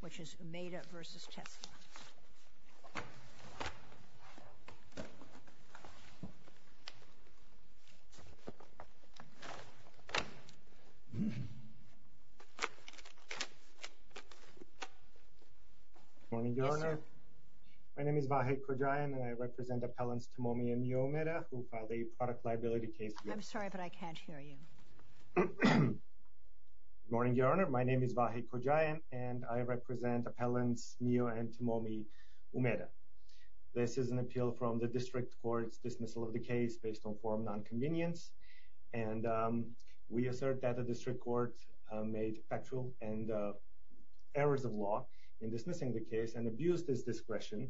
which is Umeda v. Tesla. Good morning, Your Honor. My name is Vahey Kojayan and I represent appellants Tomomi and Umeda who filed a product liability case here. I'm sorry, but I can't hear you. Good morning, Your Honor. My name is Vahey Kojayan and I represent appellants Mio and Tomomi Umeda. This is an appeal from the District Court's dismissal of the case based on form of nonconvenience. We assert that the District Court made factual errors of law in dismissing the case and abused its discretion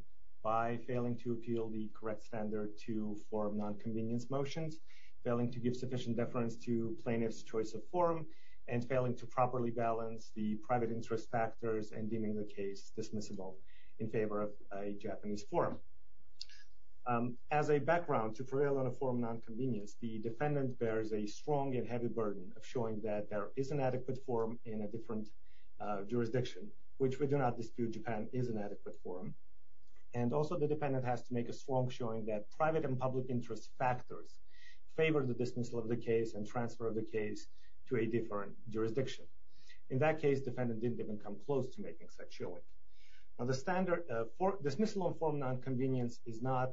by failing to appeal the correct standard to form of nonconvenience motions, failing to give sufficient deference to plaintiff's choice of form, and failing to properly balance the private interest factors and deeming the case dismissible in favor of a Japanese form. As a background to prevail on a form of nonconvenience, the defendant bears a strong and heavy burden of showing that there is an adequate form in a different jurisdiction, which we do not dispute Japan is an adequate form. And also the defendant has to make a strong showing that private and public interest factors favor the dismissal of the case and transfer of the case to a different jurisdiction. In that case, defendant didn't even come close to making such showing. Now the standard for dismissal of form of nonconvenience is not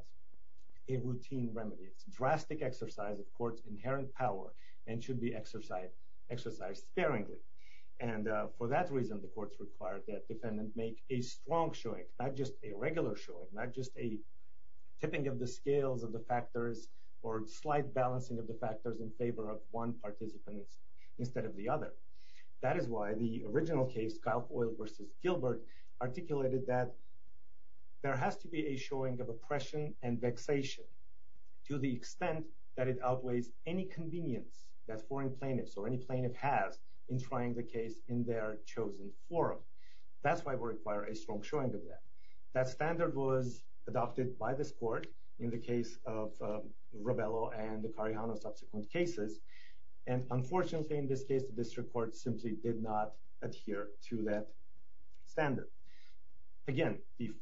a routine remedy. It's a drastic exercise of court's inherent power and should be exercised sparingly. And for that reason, the courts require that defendant make a strong showing, not just a regular showing, not just a tipping of the scales of the factors or slight balancing of the factors in favor of one participant instead of the other. That is why the original case, Kyle Coyle versus Gilbert, articulated that there has to be a showing of oppression and vexation to the extent that it outweighs any convenience that foreign plaintiffs or any plaintiff has in trying the case in their chosen forum. That's why we require a strong showing of that. That standard was adopted by this court in the case of Robello and the Karihana subsequent cases. And unfortunately, in this case, the district court simply did not adhere to that standard. Again, the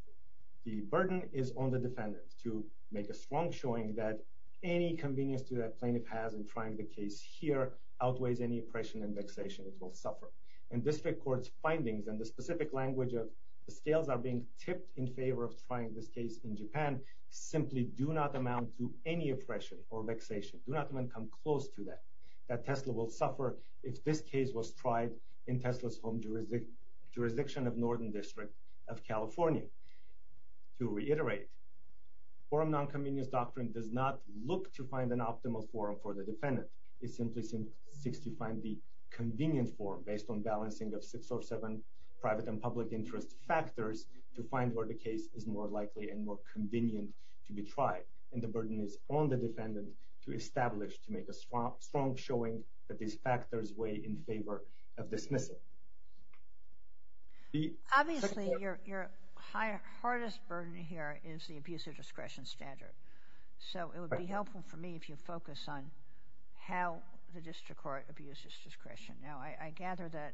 burden is on the defendant to make a strong showing that any convenience to that plaintiff has in trying the case here outweighs any oppression and vexation it will suffer. And district court's findings and the specific language of the scales are being tipped in favor of trying this case in Japan simply do not amount to any oppression or vexation, do not even come close to that, that Tesla will suffer if this case was tried in Tesla's home jurisdiction of Northern District of California. To reiterate, forum nonconvenience doctrine does not look to find an optimal forum for the defendant. It simply seeks to find the convenient forum based on balancing of six or seven private and public interest factors to find where the case is more likely and more convenient to be tried. And the burden is on the defendant to establish, to make a strong showing that these factors weigh in favor of dismissal. Obviously, your hardest burden here is the abuse of discretion standard. So it would be helpful for me if you focus on how the district court abuses discretion. Now, I gather that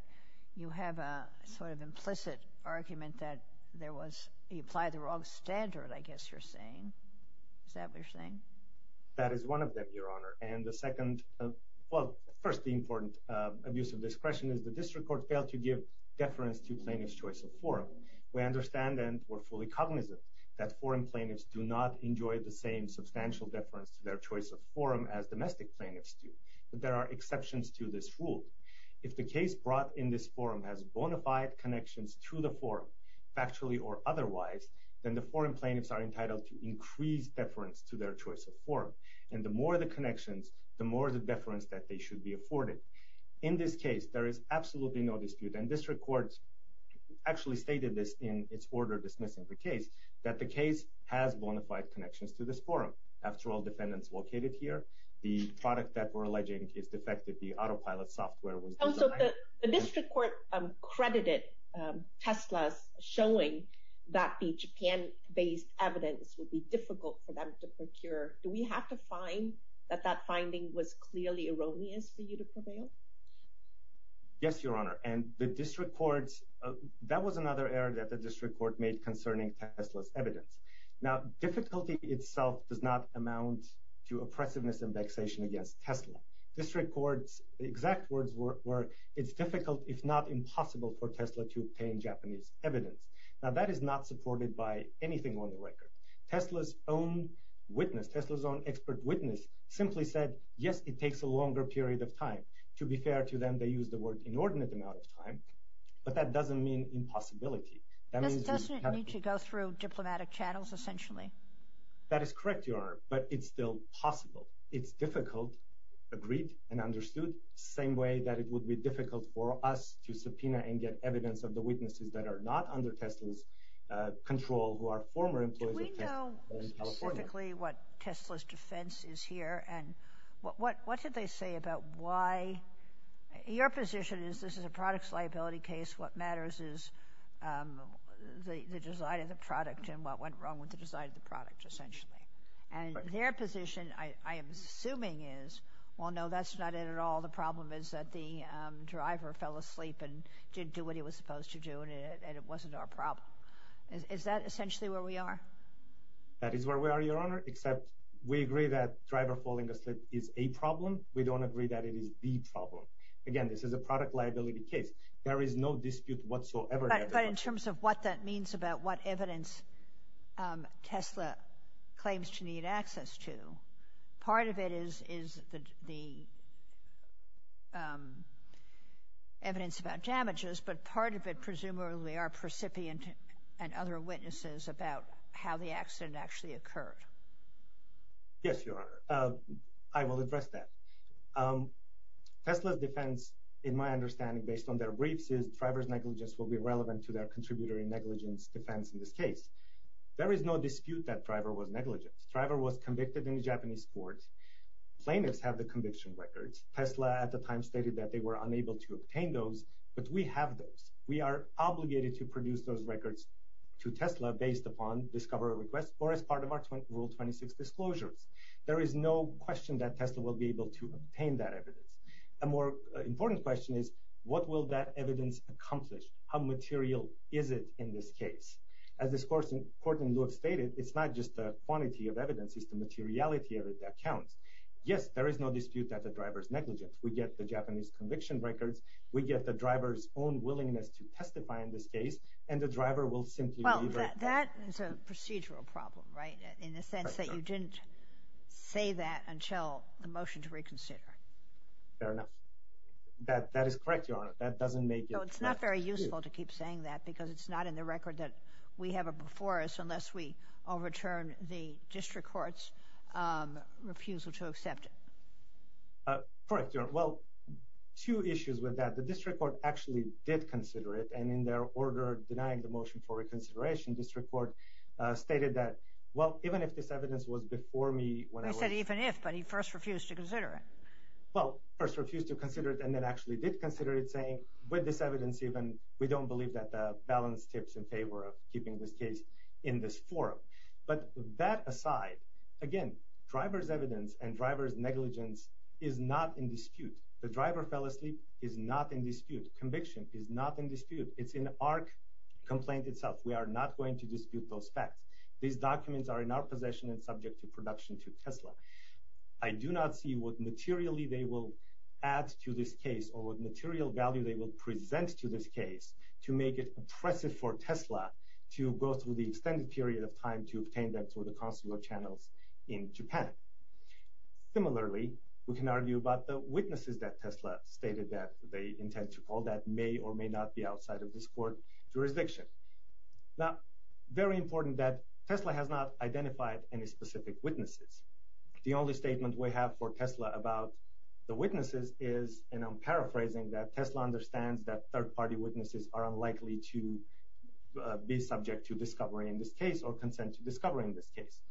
you have a sort of implicit argument that there was, you applied the wrong standard, I guess you're saying. Is that what you're saying? That is one of them, Your Honor. And the second, well, first, the important abuse of discretion is the district court failed to give deference to plaintiff's choice of forum. We understand and we're fully cognizant that foreign plaintiffs do not enjoy the same substantial deference to their choice of forum as domestic plaintiffs do. But there are exceptions to this rule. If the case brought in this forum has bona fide connections to the forum, factually or otherwise, then the foreign plaintiffs are entitled to increase deference to their choice of forum. And the more the connections, the more the deference that they should be afforded. In this case, there is absolutely no dispute. And district courts actually stated this in its order dismissing the case, that the case has bona fide connections to this forum. After all, defendants located here, the product that we're alleging is defective, the autopilot software was— So the district court credited Tesla's showing that the Japan-based evidence would be difficult for them to procure. Do we have to find that that finding was clearly erroneous for you to prevail? Yes, Your Honor. And the district courts— that was another error that the district court made concerning Tesla's evidence. Now, difficulty itself does not amount to oppressiveness and vexation against Tesla. District courts' exact words were, it's difficult if not impossible for Tesla to obtain Japanese evidence. Now, that is not supported by anything on the record. Tesla's own witness, Tesla's own expert witness simply said, yes, it takes a longer period of time. To be fair to them, they used the word inordinate amount of time, but that doesn't mean impossibility. That doesn't mean to go through diplomatic channels, essentially. That is correct, Your Honor, but it's still possible. It's difficult, agreed and understood, same way that it would be difficult for us to subpoena and get evidence of the witnesses that are not under Tesla's control who are former employees of Tesla in California. Do we know specifically what Tesla's defense is here? And what did they say about why— your position is this is a product's liability case. What matters is the design of the product and what went wrong with the design of the product, essentially. And their position, I am assuming, is, well, no, that's not it at all. The problem is that the driver fell asleep and didn't do what he was supposed to do, and it wasn't our problem. Is that essentially where we are? That is where we are, Your Honor, except we agree that driver falling asleep is a problem. We don't agree that it is the problem. Again, this is a product liability case. There is no dispute whatsoever— But in terms of what that means about what evidence Tesla claims to need access to, part of it is the evidence about damages, but part of it presumably are percipient and other witnesses about how the accident actually occurred. Yes, Your Honor. I will address that. Tesla's defense, in my understanding, based on their briefs, is driver's negligence will be relevant to their contributory negligence defense in this case. There is no dispute that driver was negligent. Driver was convicted in a Japanese court. Plaintiffs have the conviction records. Tesla at the time stated that they were unable to obtain those, but we have those. We are obligated to produce those records to Tesla based upon discovery requests or as part of our Rule 26 disclosures. There is no question that Tesla will be able to obtain that evidence. A more important question is what will that evidence accomplish? How material is it in this case? As this court in lieu of stated, it's not just the quantity of evidence. It's the materiality of it that counts. Yes, there is no dispute that the driver is negligent. We get the Japanese conviction records. We get the driver's own willingness to testify in this case, and the driver will simply deliver. Well, that is a procedural problem, right, in the sense that you didn't say that until the motion to reconsider. Fair enough. That is correct, Your Honor. That doesn't make it— No, it's not very useful to keep saying that because it's not in the record that we have it before us unless we overturn the district court's refusal to accept it. Correct, Your Honor. Well, two issues with that. The district court actually did consider it, and in their order denying the motion for reconsideration, district court stated that, well, even if this evidence was before me— They said even if, but he first refused to consider it. Well, first refused to consider it and then actually did consider it, saying, with this evidence even, we don't believe that the balance tips in favor of keeping this case in this forum. But that aside, again, the driver's evidence and driver's negligence is not in dispute. The driver fell asleep is not in dispute. Conviction is not in dispute. It's in the ARC complaint itself. We are not going to dispute those facts. These documents are in our possession and subject to production to Tesla. I do not see what materially they will add to this case or what material value they will present to this case to make it oppressive for Tesla to go through the extended period of time to obtain them through the consular channels in Japan. Similarly, we can argue about the witnesses that Tesla stated that they intend to call that may or may not be outside of this court jurisdiction. Now, very important that Tesla has not identified any specific witnesses. The only statement we have for Tesla about the witnesses is, and I'm paraphrasing, that Tesla understands that third-party witnesses are unlikely to be subject to discovery in this case or consent to discovery in this case.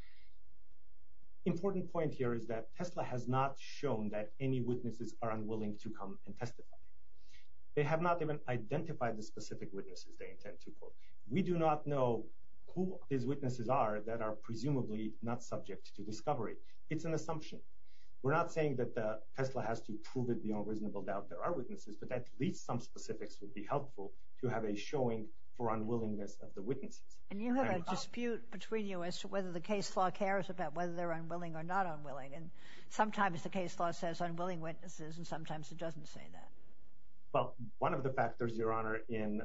The important point here is that Tesla has not shown that any witnesses are unwilling to come and testify. They have not even identified the specific witnesses they intend to call. We do not know who these witnesses are that are presumably not subject to discovery. It's an assumption. We're not saying that Tesla has to prove it beyond reasonable doubt there are witnesses, but at least some specifics would be helpful to have a showing for unwillingness of the witnesses. And you have a dispute between you as to whether the case law cares about whether they're unwilling or not unwilling, and sometimes the case law says unwilling witnesses and sometimes it doesn't say that. Well, one of the factors, Your Honor, in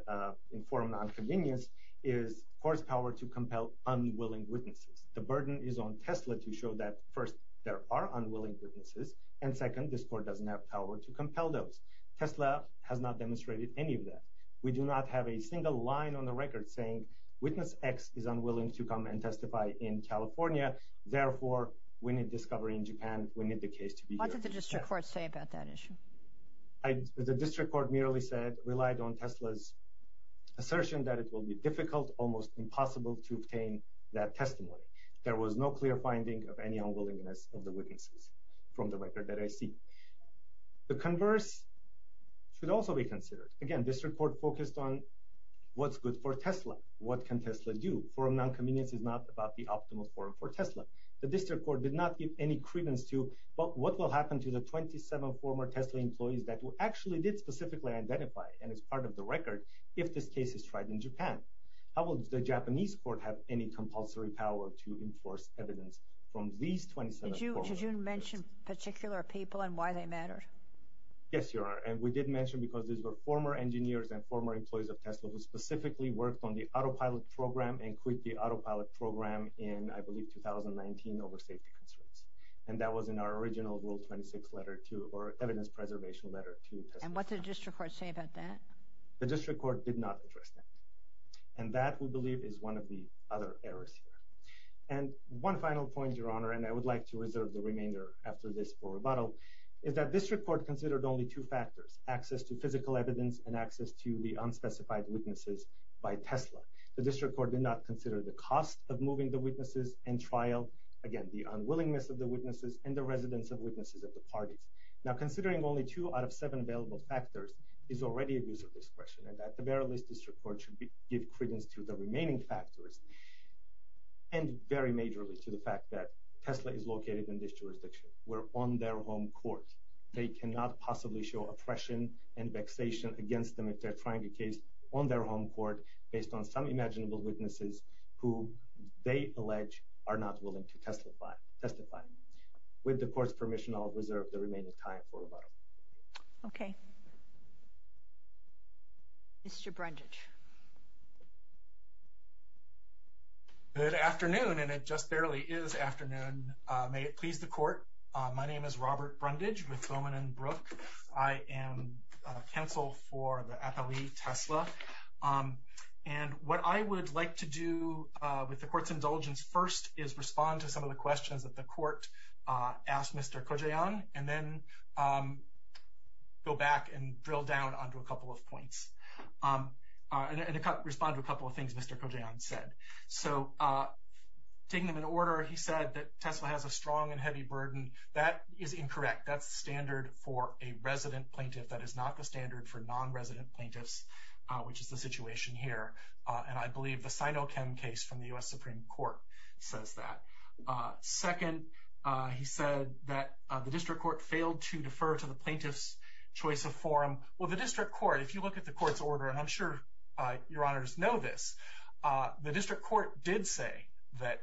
forum nonconvenience is the court's power to compel unwilling witnesses. The burden is on Tesla to show that, first, there are unwilling witnesses, and second, this court doesn't have power to compel those. Tesla has not demonstrated any of that. We do not have a single line on the record saying witness X is unwilling to come and testify in California. Therefore, we need discovery in Japan. We need the case to be heard. What did the district court say about that issue? The district court merely said, relied on Tesla's assertion that it will be difficult, almost impossible, to obtain that testimony. There was no clear finding of any unwillingness of the witnesses from the record that I see. The converse should also be considered. Again, district court focused on what's good for Tesla. What can Tesla do? Forum nonconvenience is not about the optimal forum for Tesla. The district court did not give any credence to what will happen to the 27 former Tesla employees that actually did specifically identify and is part of the record if this case is tried in Japan. How will the Japanese court have any compulsory power to enforce evidence from these 27 former employees? Did you mention particular people and why they mattered? Yes, Your Honor, and we did mention because these were former engineers and former employees of Tesla who specifically worked on the autopilot program and quit the autopilot program in, I believe, 2019 over safety concerns. And that was in our original Rule 26 Letter 2, or Evidence Preservation Letter 2. And what did the district court say about that? The district court did not address that. And that, we believe, is one of the other errors here. And one final point, Your Honor, and I would like to reserve the remainder after this for rebuttal, is that district court considered only two factors, access to physical evidence and access to the unspecified witnesses by Tesla. The district court did not consider the cost of moving the witnesses and trial, again, the unwillingness of the witnesses and the residence of witnesses at the parties. Now, considering only two out of seven available factors is already a use of discretion, and that the bare-list district court should give credence to the remaining factors and very majorly to the fact that Tesla is located in this jurisdiction. We're on their home court. They cannot possibly show oppression and vexation against them if they're trying a case on their home court based on some imaginable witnesses who they allege are not willing to testify. With the court's permission, I'll reserve the remaining time for rebuttal. Okay. Mr. Brundage. Good afternoon, and it just barely is afternoon. May it please the court, my name is Robert Brundage with Bowman & Brooke. I am counsel for the athlete Tesla. And what I would like to do with the court's indulgence first is respond to some of the questions that the court asked Mr. Kojayan and then go back and drill down onto a couple of points and respond to a couple of things Mr. Kojayan said. So taking them in order, he said that Tesla has a strong and heavy burden. That is incorrect. That's standard for a resident plaintiff. That is not the standard for non-resident plaintiffs, which is the situation here. And I believe the Sinochem case from the U.S. Supreme Court says that. Second, he said that the district court failed to defer to the plaintiff's choice of forum. Well, the district court, if you look at the court's order, and I'm sure your honors know this, the district court did say that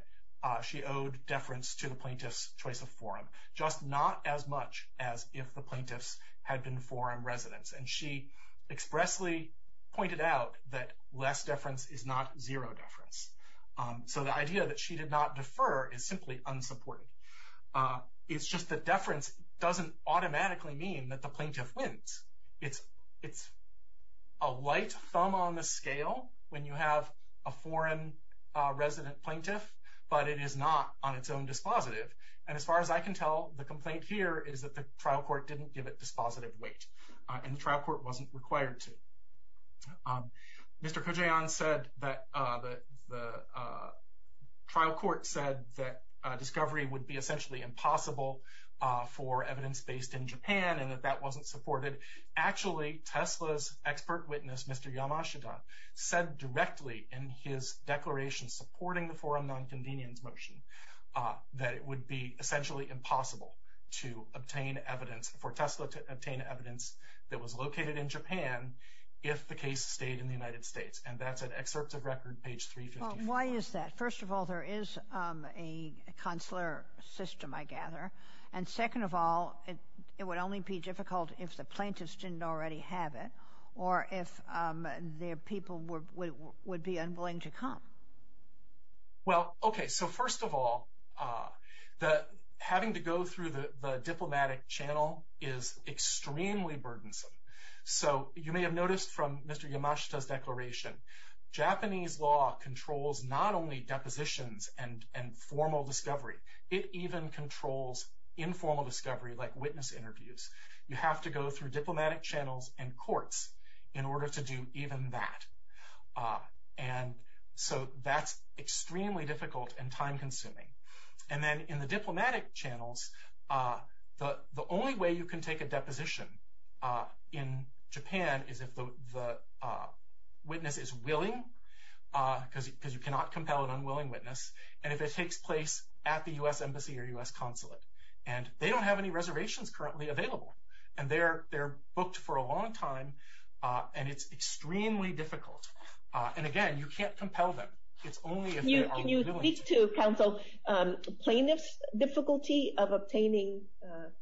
she owed deference to the plaintiff's choice of forum, just not as much as if the plaintiff's had been forum residence. And she expressly pointed out that less deference is not zero deference. So the idea that she did not defer is simply unsupported. It's just that deference doesn't automatically mean that the plaintiff wins. It's a light thumb on the scale when you have a forum resident plaintiff, but it is not on its own dispositive. And as far as I can tell, the complaint here is that the trial court didn't give it dispositive weight, and the trial court wasn't required to. Mr. Kojayan said that the trial court said that discovery would be essentially impossible for evidence based in Japan and that that wasn't supported. Actually, Tesla's expert witness, Mr. Yamashita, said directly in his declaration supporting the forum nonconvenience motion that it would be essentially impossible to obtain evidence, for Tesla to obtain evidence that was located in Japan if the case stayed in the United States. And that's an excerpt of record, page 354. Well, why is that? First of all, there is a consular system, I gather. And second of all, it would only be difficult if the plaintiffs didn't already have it or if their people would be unwilling to come. Well, okay, so first of all, having to go through the diplomatic channel is extremely burdensome. So you may have noticed from Mr. Yamashita's declaration, Japanese law controls not only depositions and formal discovery, it even controls informal discovery like witness interviews. You have to go through diplomatic channels and courts in order to do even that. And so that's extremely difficult and time consuming. And then in the diplomatic channels, the only way you can take a deposition in Japan is if the witness is willing, because you cannot compel an unwilling witness, and if it takes place at the U.S. Embassy or U.S. Consulate. And they don't have any reservations currently available. And they're booked for a long time, and it's extremely difficult. And again, you can't compel them. It's only if they are willing. Can you speak to, counsel, plaintiff's difficulty of obtaining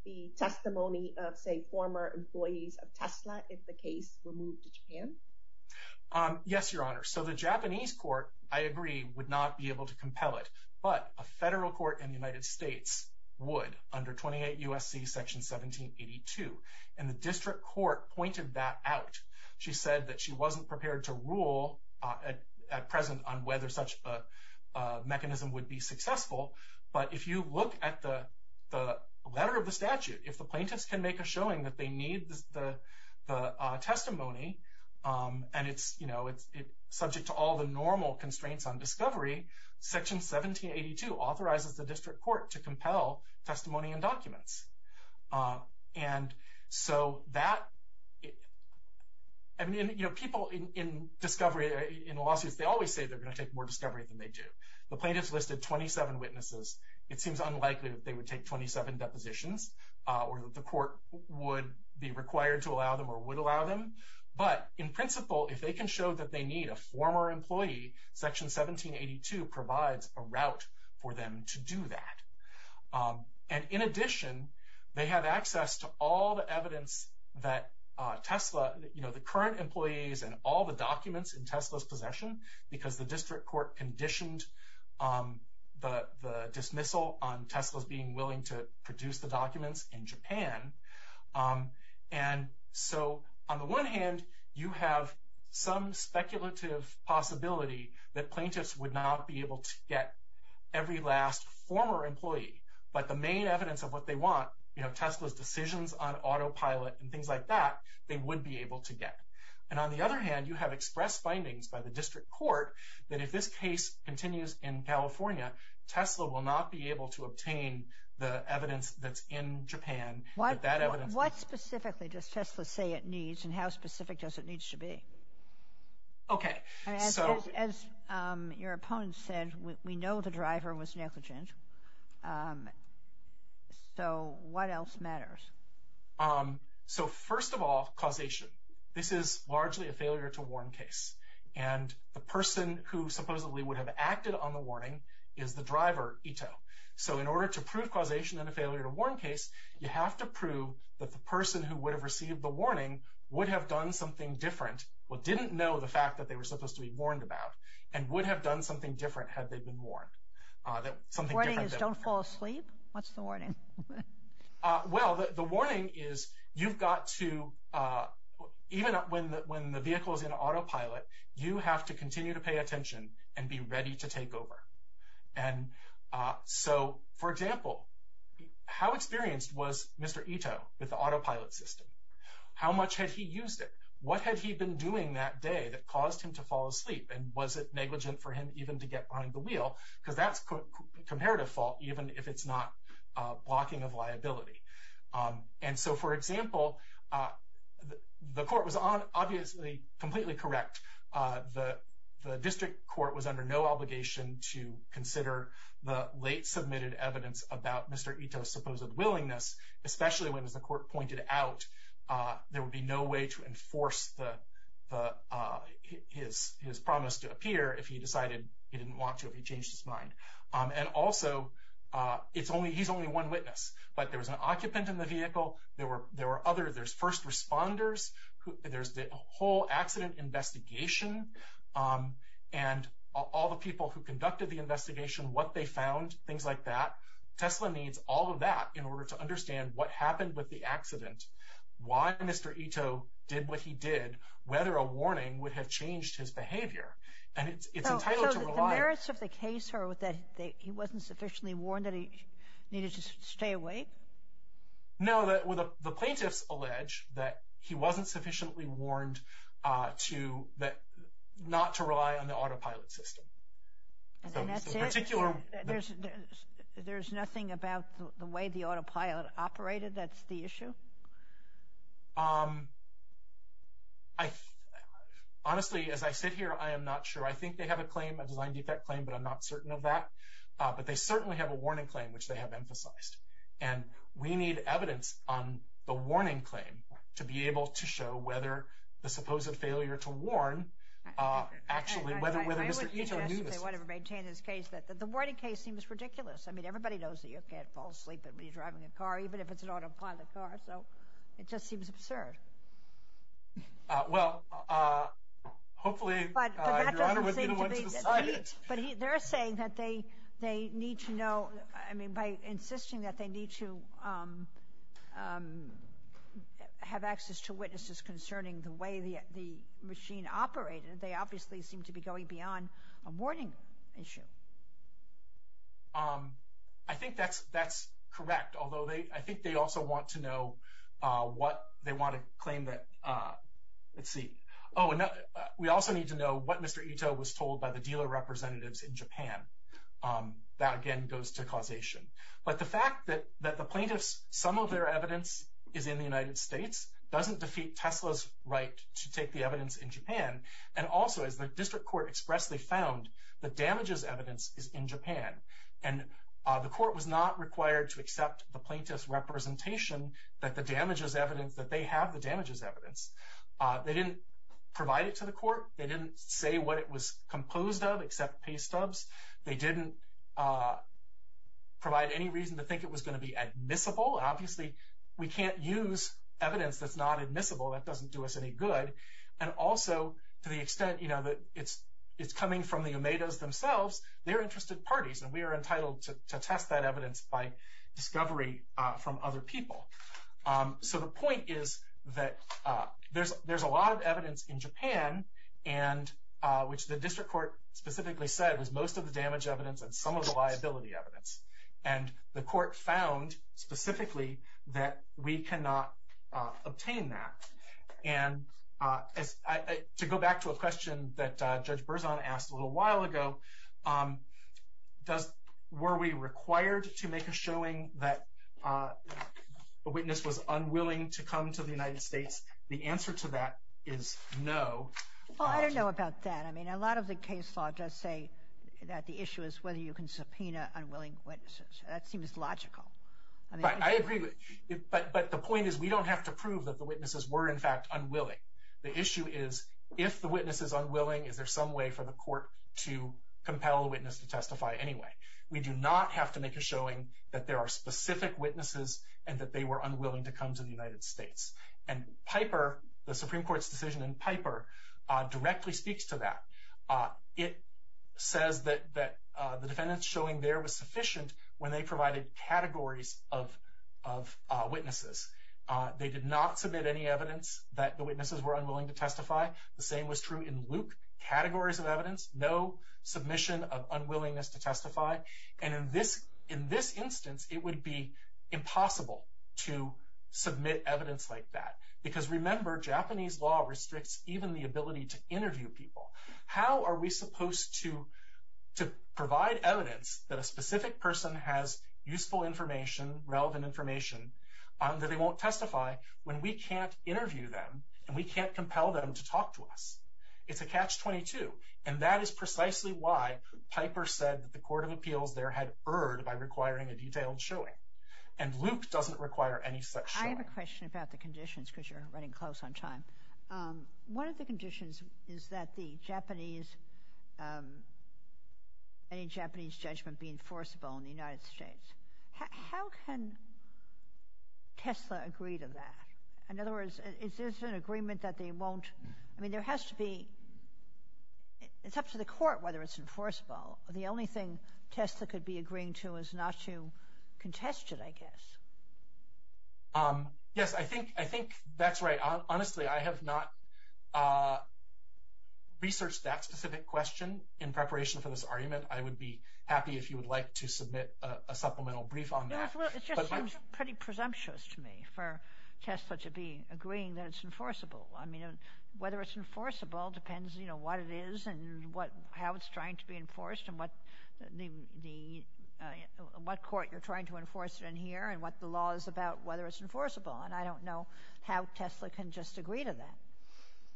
the testimony of, say, former employees of Tesla if the case were moved to Japan? Yes, Your Honor. So the Japanese court, I agree, would not be able to compel it, but a federal court in the United States would under 28 U.S.C. Section 1782. And the district court pointed that out. She said that she wasn't prepared to rule at present on whether such a mechanism would be successful. But if you look at the letter of the statute, if the plaintiffs can make a showing that they need the testimony and it's subject to all the normal constraints on discovery, Section 1782 authorizes the district court to compel testimony and documents. And so that, I mean, you know, people in discovery, in lawsuits, they always say they're going to take more discovery than they do. The plaintiffs listed 27 witnesses. It seems unlikely that they would take 27 depositions or that the court would be required to allow them or would allow them. But in principle, if they can show that they need a former employee, Section 1782 provides a route for them to do that. And in addition, they have access to all the evidence that Tesla, you know, the current employees and all the documents in Tesla's possession, because the district court conditioned the dismissal on Tesla's being willing to produce the documents in Japan. And so on the one hand, you have some speculative possibility that plaintiffs would not be able to get every last former employee, but the main evidence of what they want, you know, Tesla's decisions on autopilot and things like that, they would be able to get. And on the other hand, you have expressed findings by the district court that if this case continues in California, Tesla will not be able to obtain the evidence that's in Japan. What specifically does Tesla say it needs and how specific does it need to be? Okay. As your opponent said, we know the driver was negligent. So what else matters? So first of all, causation. This is largely a failure to warn case. And the person who supposedly would have acted on the warning is the driver, Ito. So in order to prove causation and a failure to warn case, you have to prove that the person who would have received the warning would have done something different, but didn't know the fact that they were supposed to be warned about, and would have done something different had they been warned. The warning is don't fall asleep? What's the warning? Well, the warning is you've got to, even when the vehicle is in autopilot, you have to continue to pay attention and be ready to take over. And so, for example, how experienced was Mr. Ito with the autopilot system? How much had he used it? What had he been doing that day that caused him to fall asleep? And was it negligent for him even to get behind the wheel? Because that's comparative fault, even if it's not blocking of liability. And so, for example, the court was obviously completely correct. The district court was under no obligation to consider the late submitted evidence about Mr. Ito's supposed willingness, especially when, as the court pointed out, there would be no way to enforce his promise to appear if he decided he didn't want to, if he changed his mind. And also, he's only one witness, but there was an occupant in the vehicle, there were other, there's first responders, there's the whole accident investigation, and all the people who conducted the investigation, what they found, things like that. TESLA needs all of that in order to understand what happened with the accident, why Mr. Ito did what he did, whether a warning would have changed his behavior. And it's entitled to rely. So the merits of the case are that he wasn't sufficiently warned that he needed to stay awake? No, the plaintiffs allege that he wasn't sufficiently warned not to rely on the autopilot system. And that's it? There's nothing about the way the autopilot operated that's the issue? Honestly, as I sit here, I am not sure. I think they have a claim, a design defect claim, but I'm not certain of that. But they certainly have a warning claim, which they have emphasized. And we need evidence on the warning claim to be able to show whether the supposed failure to warn actually, whether Mr. Ito knew this. I would suggest, if they want to maintain this case, that the warning case seems ridiculous. I mean, everybody knows that you can't fall asleep when you're driving a car, even if it's an autopilot car, so it just seems absurd. Well, hopefully, Your Honor would be the one to decide it. But they're saying that they need to know, I mean, by insisting that they need to have access to witnesses concerning the way the machine operated, they obviously seem to be going beyond a warning issue. I think that's correct, although I think they also want to know what they want to claim that, let's see. We also need to know what Mr. Ito was told by the dealer representatives in Japan. That, again, goes to causation. But the fact that the plaintiff's, some of their evidence is in the United States, doesn't defeat Tesla's right to take the evidence in Japan. And also, as the district court expressly found, the damages evidence is in Japan. And the court was not required to accept the plaintiff's representation that the damages evidence, that they have the damages evidence. They didn't provide it to the court. They didn't say what it was composed of, except pay stubs. They didn't provide any reason to think it was going to be admissible. Obviously, we can't use evidence that's not admissible. That doesn't do us any good. And also, to the extent, you know, that it's coming from the Omedas themselves, they're interested parties, and we are entitled to test that evidence by discovery from other people. So the point is that there's a lot of evidence in Japan, which the district court specifically said was most of the damage evidence and some of the liability evidence. And the court found specifically that we cannot obtain that. And to go back to a question that Judge Berzon asked a little while ago, were we required to make a showing that a witness was unwilling to come to the United States? The answer to that is no. Well, I don't know about that. I mean, a lot of the case law does say that the issue is whether you can subpoena unwilling witnesses. That seems logical. I agree, but the point is we don't have to prove that the witnesses were, in fact, unwilling. The issue is if the witness is unwilling, is there some way for the court to compel the witness to testify anyway? We do not have to make a showing that there are specific witnesses and that they were unwilling to come to the United States. And Piper, the Supreme Court's decision in Piper, directly speaks to that. It says that the defendant's showing there was sufficient when they provided categories of witnesses. They did not submit any evidence that the witnesses were unwilling to testify. The same was true in Luke. Categories of evidence, no submission of unwillingness to testify. And in this instance, it would be impossible to submit evidence like that. Because remember, Japanese law restricts even the ability to interview people. How are we supposed to provide evidence that a specific person has useful information, relevant information, that they won't testify when we can't interview them and we can't compel them to talk to us? It's a catch-22. And that is precisely why Piper said that the court of appeals there had erred by requiring a detailed showing. And Luke doesn't require any such showing. I have a question about the conditions, because you're running close on time. One of the conditions is that the Japanese, any Japanese judgment be enforceable in the United States. How can Tesla agree to that? In other words, is this an agreement that they won't – I mean, there has to be – it's up to the court whether it's enforceable. The only thing Tesla could be agreeing to is not to contest it, I guess. Yes, I think that's right. Honestly, I have not researched that specific question in preparation for this argument. I would be happy if you would like to submit a supplemental brief on that. It just seems pretty presumptuous to me for Tesla to be agreeing that it's enforceable. I mean, whether it's enforceable depends, you know, what it is and how it's trying to be enforced and what court you're trying to enforce it in here and what the law is about, whether it's enforceable. And I don't know how Tesla can just agree to that.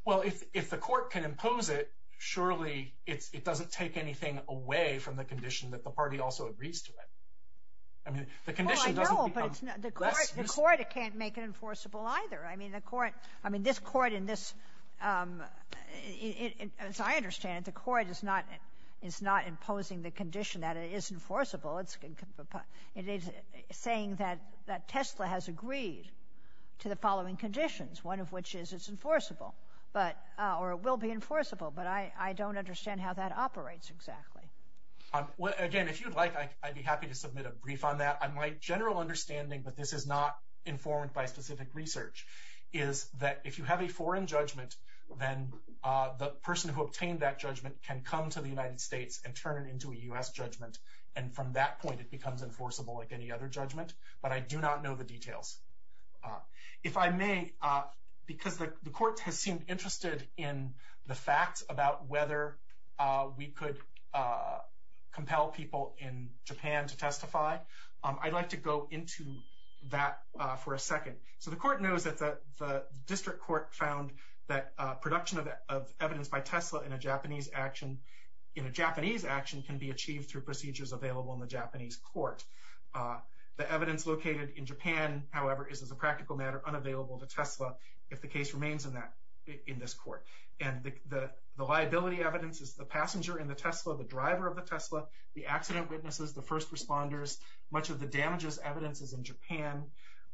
Well, if the court can impose it, surely it doesn't take anything away from the condition that the party also agrees to it. I mean, the condition doesn't become less reasonable. Well, I know, but the court can't make it enforceable either. I mean, the court – I mean, this court in this – as I understand it, the court is not imposing the condition that it is enforceable. It is saying that Tesla has agreed to the following conditions, one of which is it's enforceable, or it will be enforceable, but I don't understand how that operates exactly. Again, if you'd like, I'd be happy to submit a brief on that. My general understanding, but this is not informed by specific research, is that if you have a foreign judgment, then the person who obtained that judgment can come to the United States and turn it into a U.S. judgment, and from that point it becomes enforceable like any other judgment. But I do not know the details. If I may, because the court has seemed interested in the facts about whether we could compel people in Japan to testify, I'd like to go into that for a second. So the court knows that the district court found that production of evidence by Tesla in a Japanese action – the evidence located in Japan, however, is as a practical matter unavailable to Tesla if the case remains in this court. And the liability evidence is the passenger in the Tesla, the driver of the Tesla, the accident witnesses, the first responders, much of the damages evidence is in Japan.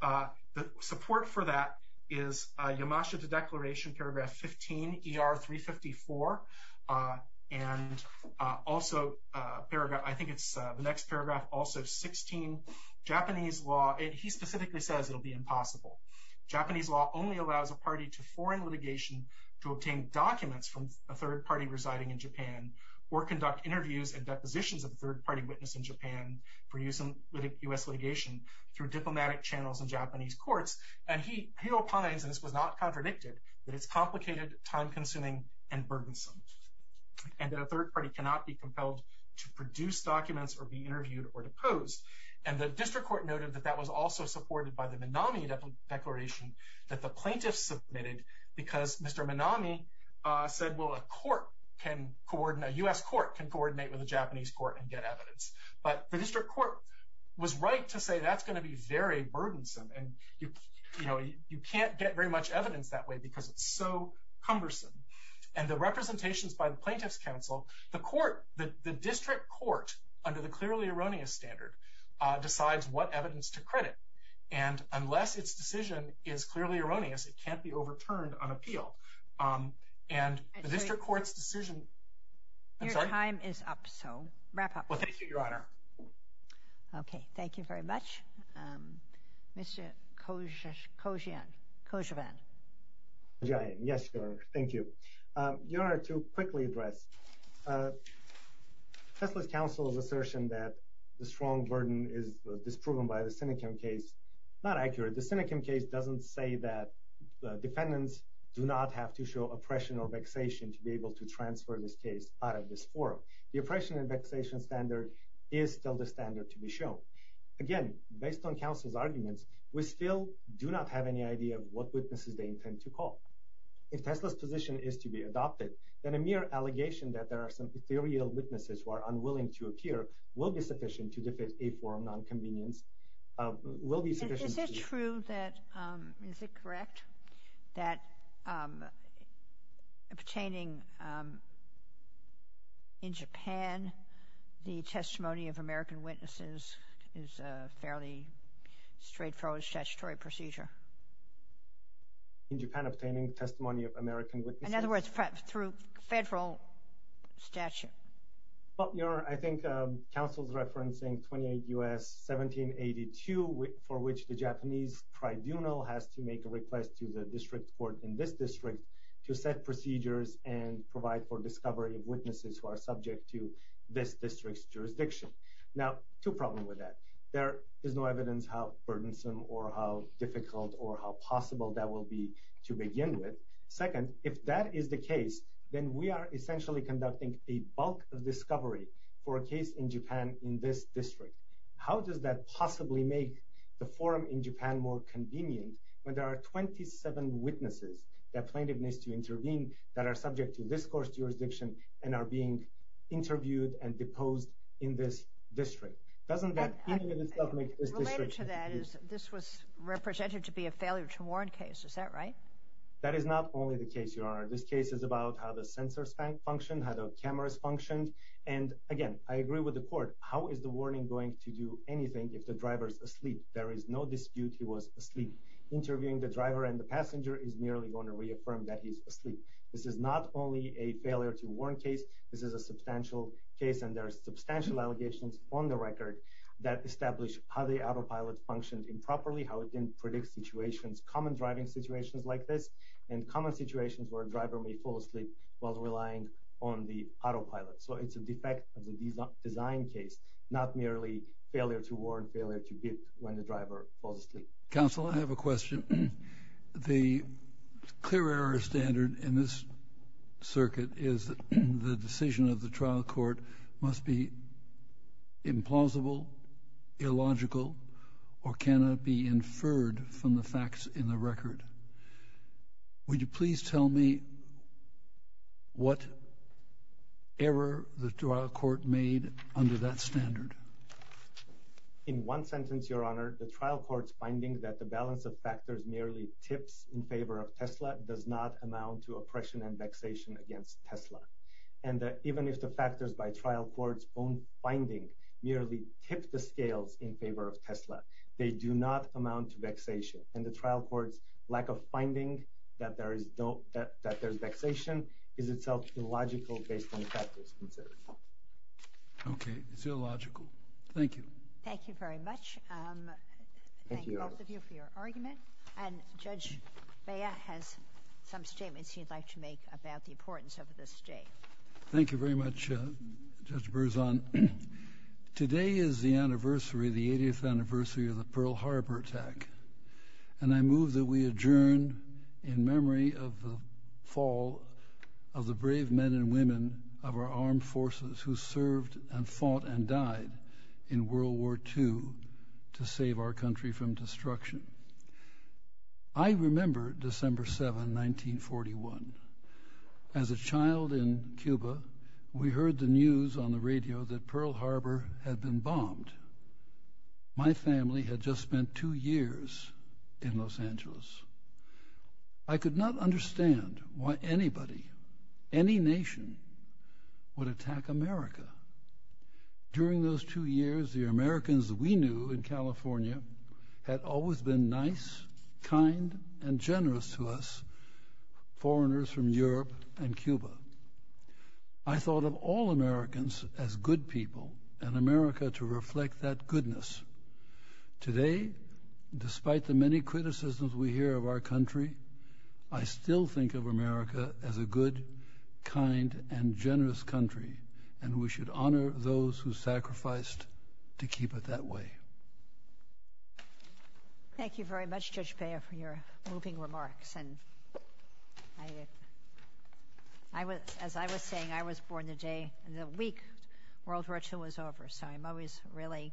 The support for that is Yamashita Declaration, paragraph 15, ER 354, and also, I think it's the next paragraph, also 16, Japanese law – he specifically says it will be impossible. Japanese law only allows a party to foreign litigation to obtain documents from a third party residing in Japan or conduct interviews and depositions of a third party witness in Japan for use in U.S. litigation through diplomatic channels in Japanese courts. And he opines, and this was not contradicted, that it's complicated, time-consuming, and burdensome, and that a third party cannot be compelled to produce documents or be interviewed or deposed. And the district court noted that that was also supported by the Minami Declaration that the plaintiffs submitted because Mr. Minami said, well, a court can coordinate – a U.S. court can coordinate with a Japanese court and get evidence. But the district court was right to say that's going to be very burdensome, and you can't get very much evidence that way because it's so cumbersome. And the representations by the Plaintiffs' Council, the court – the district court, under the clearly erroneous standard, decides what evidence to credit. And unless its decision is clearly erroneous, it can't be overturned on appeal. And the district court's decision – I'm sorry? Your time is up, so wrap up. Well, thank you, Your Honor. Okay, thank you very much. Mr. Kojian – Kojivan. Yes, Your Honor, thank you. Your Honor, to quickly address, Tesla's counsel's assertion that the strong burden is disproven by the Sinikim case, not accurate. The Sinikim case doesn't say that defendants do not have to show oppression or vexation to be able to transfer this case out of this forum. The oppression and vexation standard is still the standard to be shown. Again, based on counsel's arguments, we still do not have any idea of what witnesses they intend to call. If Tesla's position is to be adopted, then a mere allegation that there are some ethereal witnesses who are unwilling to appear will be sufficient to defeat a forum nonconvenience. Is it true that – is it correct that obtaining in Japan the testimony of American witnesses is a fairly straightforward statutory procedure? In Japan, obtaining testimony of American witnesses? In other words, through federal statute. Well, Your Honor, I think counsel's referencing 28 U.S. 1782, for which the Japanese tribunal has to make a request to the district court in this district to set procedures and provide for discovery of witnesses who are subject to this district's jurisdiction. Now, two problems with that. There is no evidence how burdensome or how difficult or how possible that will be to begin with. Second, if that is the case, then we are essentially conducting a bulk of discovery for a case in Japan in this district. How does that possibly make the forum in Japan more convenient when there are 27 witnesses that plaintiff needs to intervene that are subject to this court's jurisdiction and are being interviewed and deposed in this district? Doesn't that in and of itself make this district – Related to that is this was represented to be a failure to warrant case. Is that right? That is not only the case, Your Honor. This case is about how the sensors function, how the cameras function. And again, I agree with the court. How is the warning going to do anything if the driver's asleep? There is no dispute he was asleep. Interviewing the driver and the passenger is merely going to reaffirm that he's asleep. This is not only a failure to warrant case. This is a substantial case, and there are substantial allegations on the record that establish how the autopilot functioned improperly, how it didn't predict situations, common driving situations like this, and common situations where a driver may fall asleep while relying on the autopilot. So it's a defect of the design case, not merely failure to warrant, failure to bid when the driver falls asleep. Counsel, I have a question. The clear error standard in this circuit is the decision of the trial court must be implausible, illogical, or cannot be inferred from the facts in the record. Would you please tell me what error the trial court made under that standard? In one sentence, Your Honor. The trial court's finding that the balance of factors merely tips in favor of Tesla does not amount to oppression and vexation against Tesla. And even if the factors by trial court's own finding merely tip the scales in favor of Tesla, they do not amount to vexation. And the trial court's lack of finding that there is vexation is itself illogical based on factors considered. Okay. It's illogical. Thank you. Thank you very much. Thank you, both of you, for your argument. And Judge Bea has some statements he'd like to make about the importance of this day. Thank you very much, Judge Berzon. Today is the anniversary, the 80th anniversary of the Pearl Harbor attack, and I move that we adjourn in memory of the fall of the brave men and women of our armed forces who served and fought and died in World War II to save our country from destruction. I remember December 7, 1941. As a child in Cuba, we heard the news on the radio that Pearl Harbor had been bombed. My family had just spent two years in Los Angeles. I could not understand why anybody, any nation, would attack America. During those two years, the Americans we knew in California had always been nice, kind, and generous to us, foreigners from Europe and Cuba. I thought of all Americans as good people and America to reflect that goodness. Today, despite the many criticisms we hear of our country, I still think of America as a good, kind, and generous country, and we should honor those who sacrificed to keep it that way. Thank you very much, Judge Bea, for your moving remarks. As I was saying, I was born the day, the week World War II was over, so I'm always really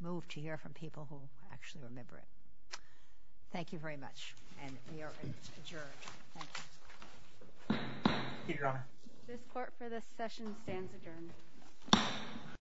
moved to hear from people who actually remember it. Thank you very much, and we are adjourned. Thank you. This court for this session stands adjourned.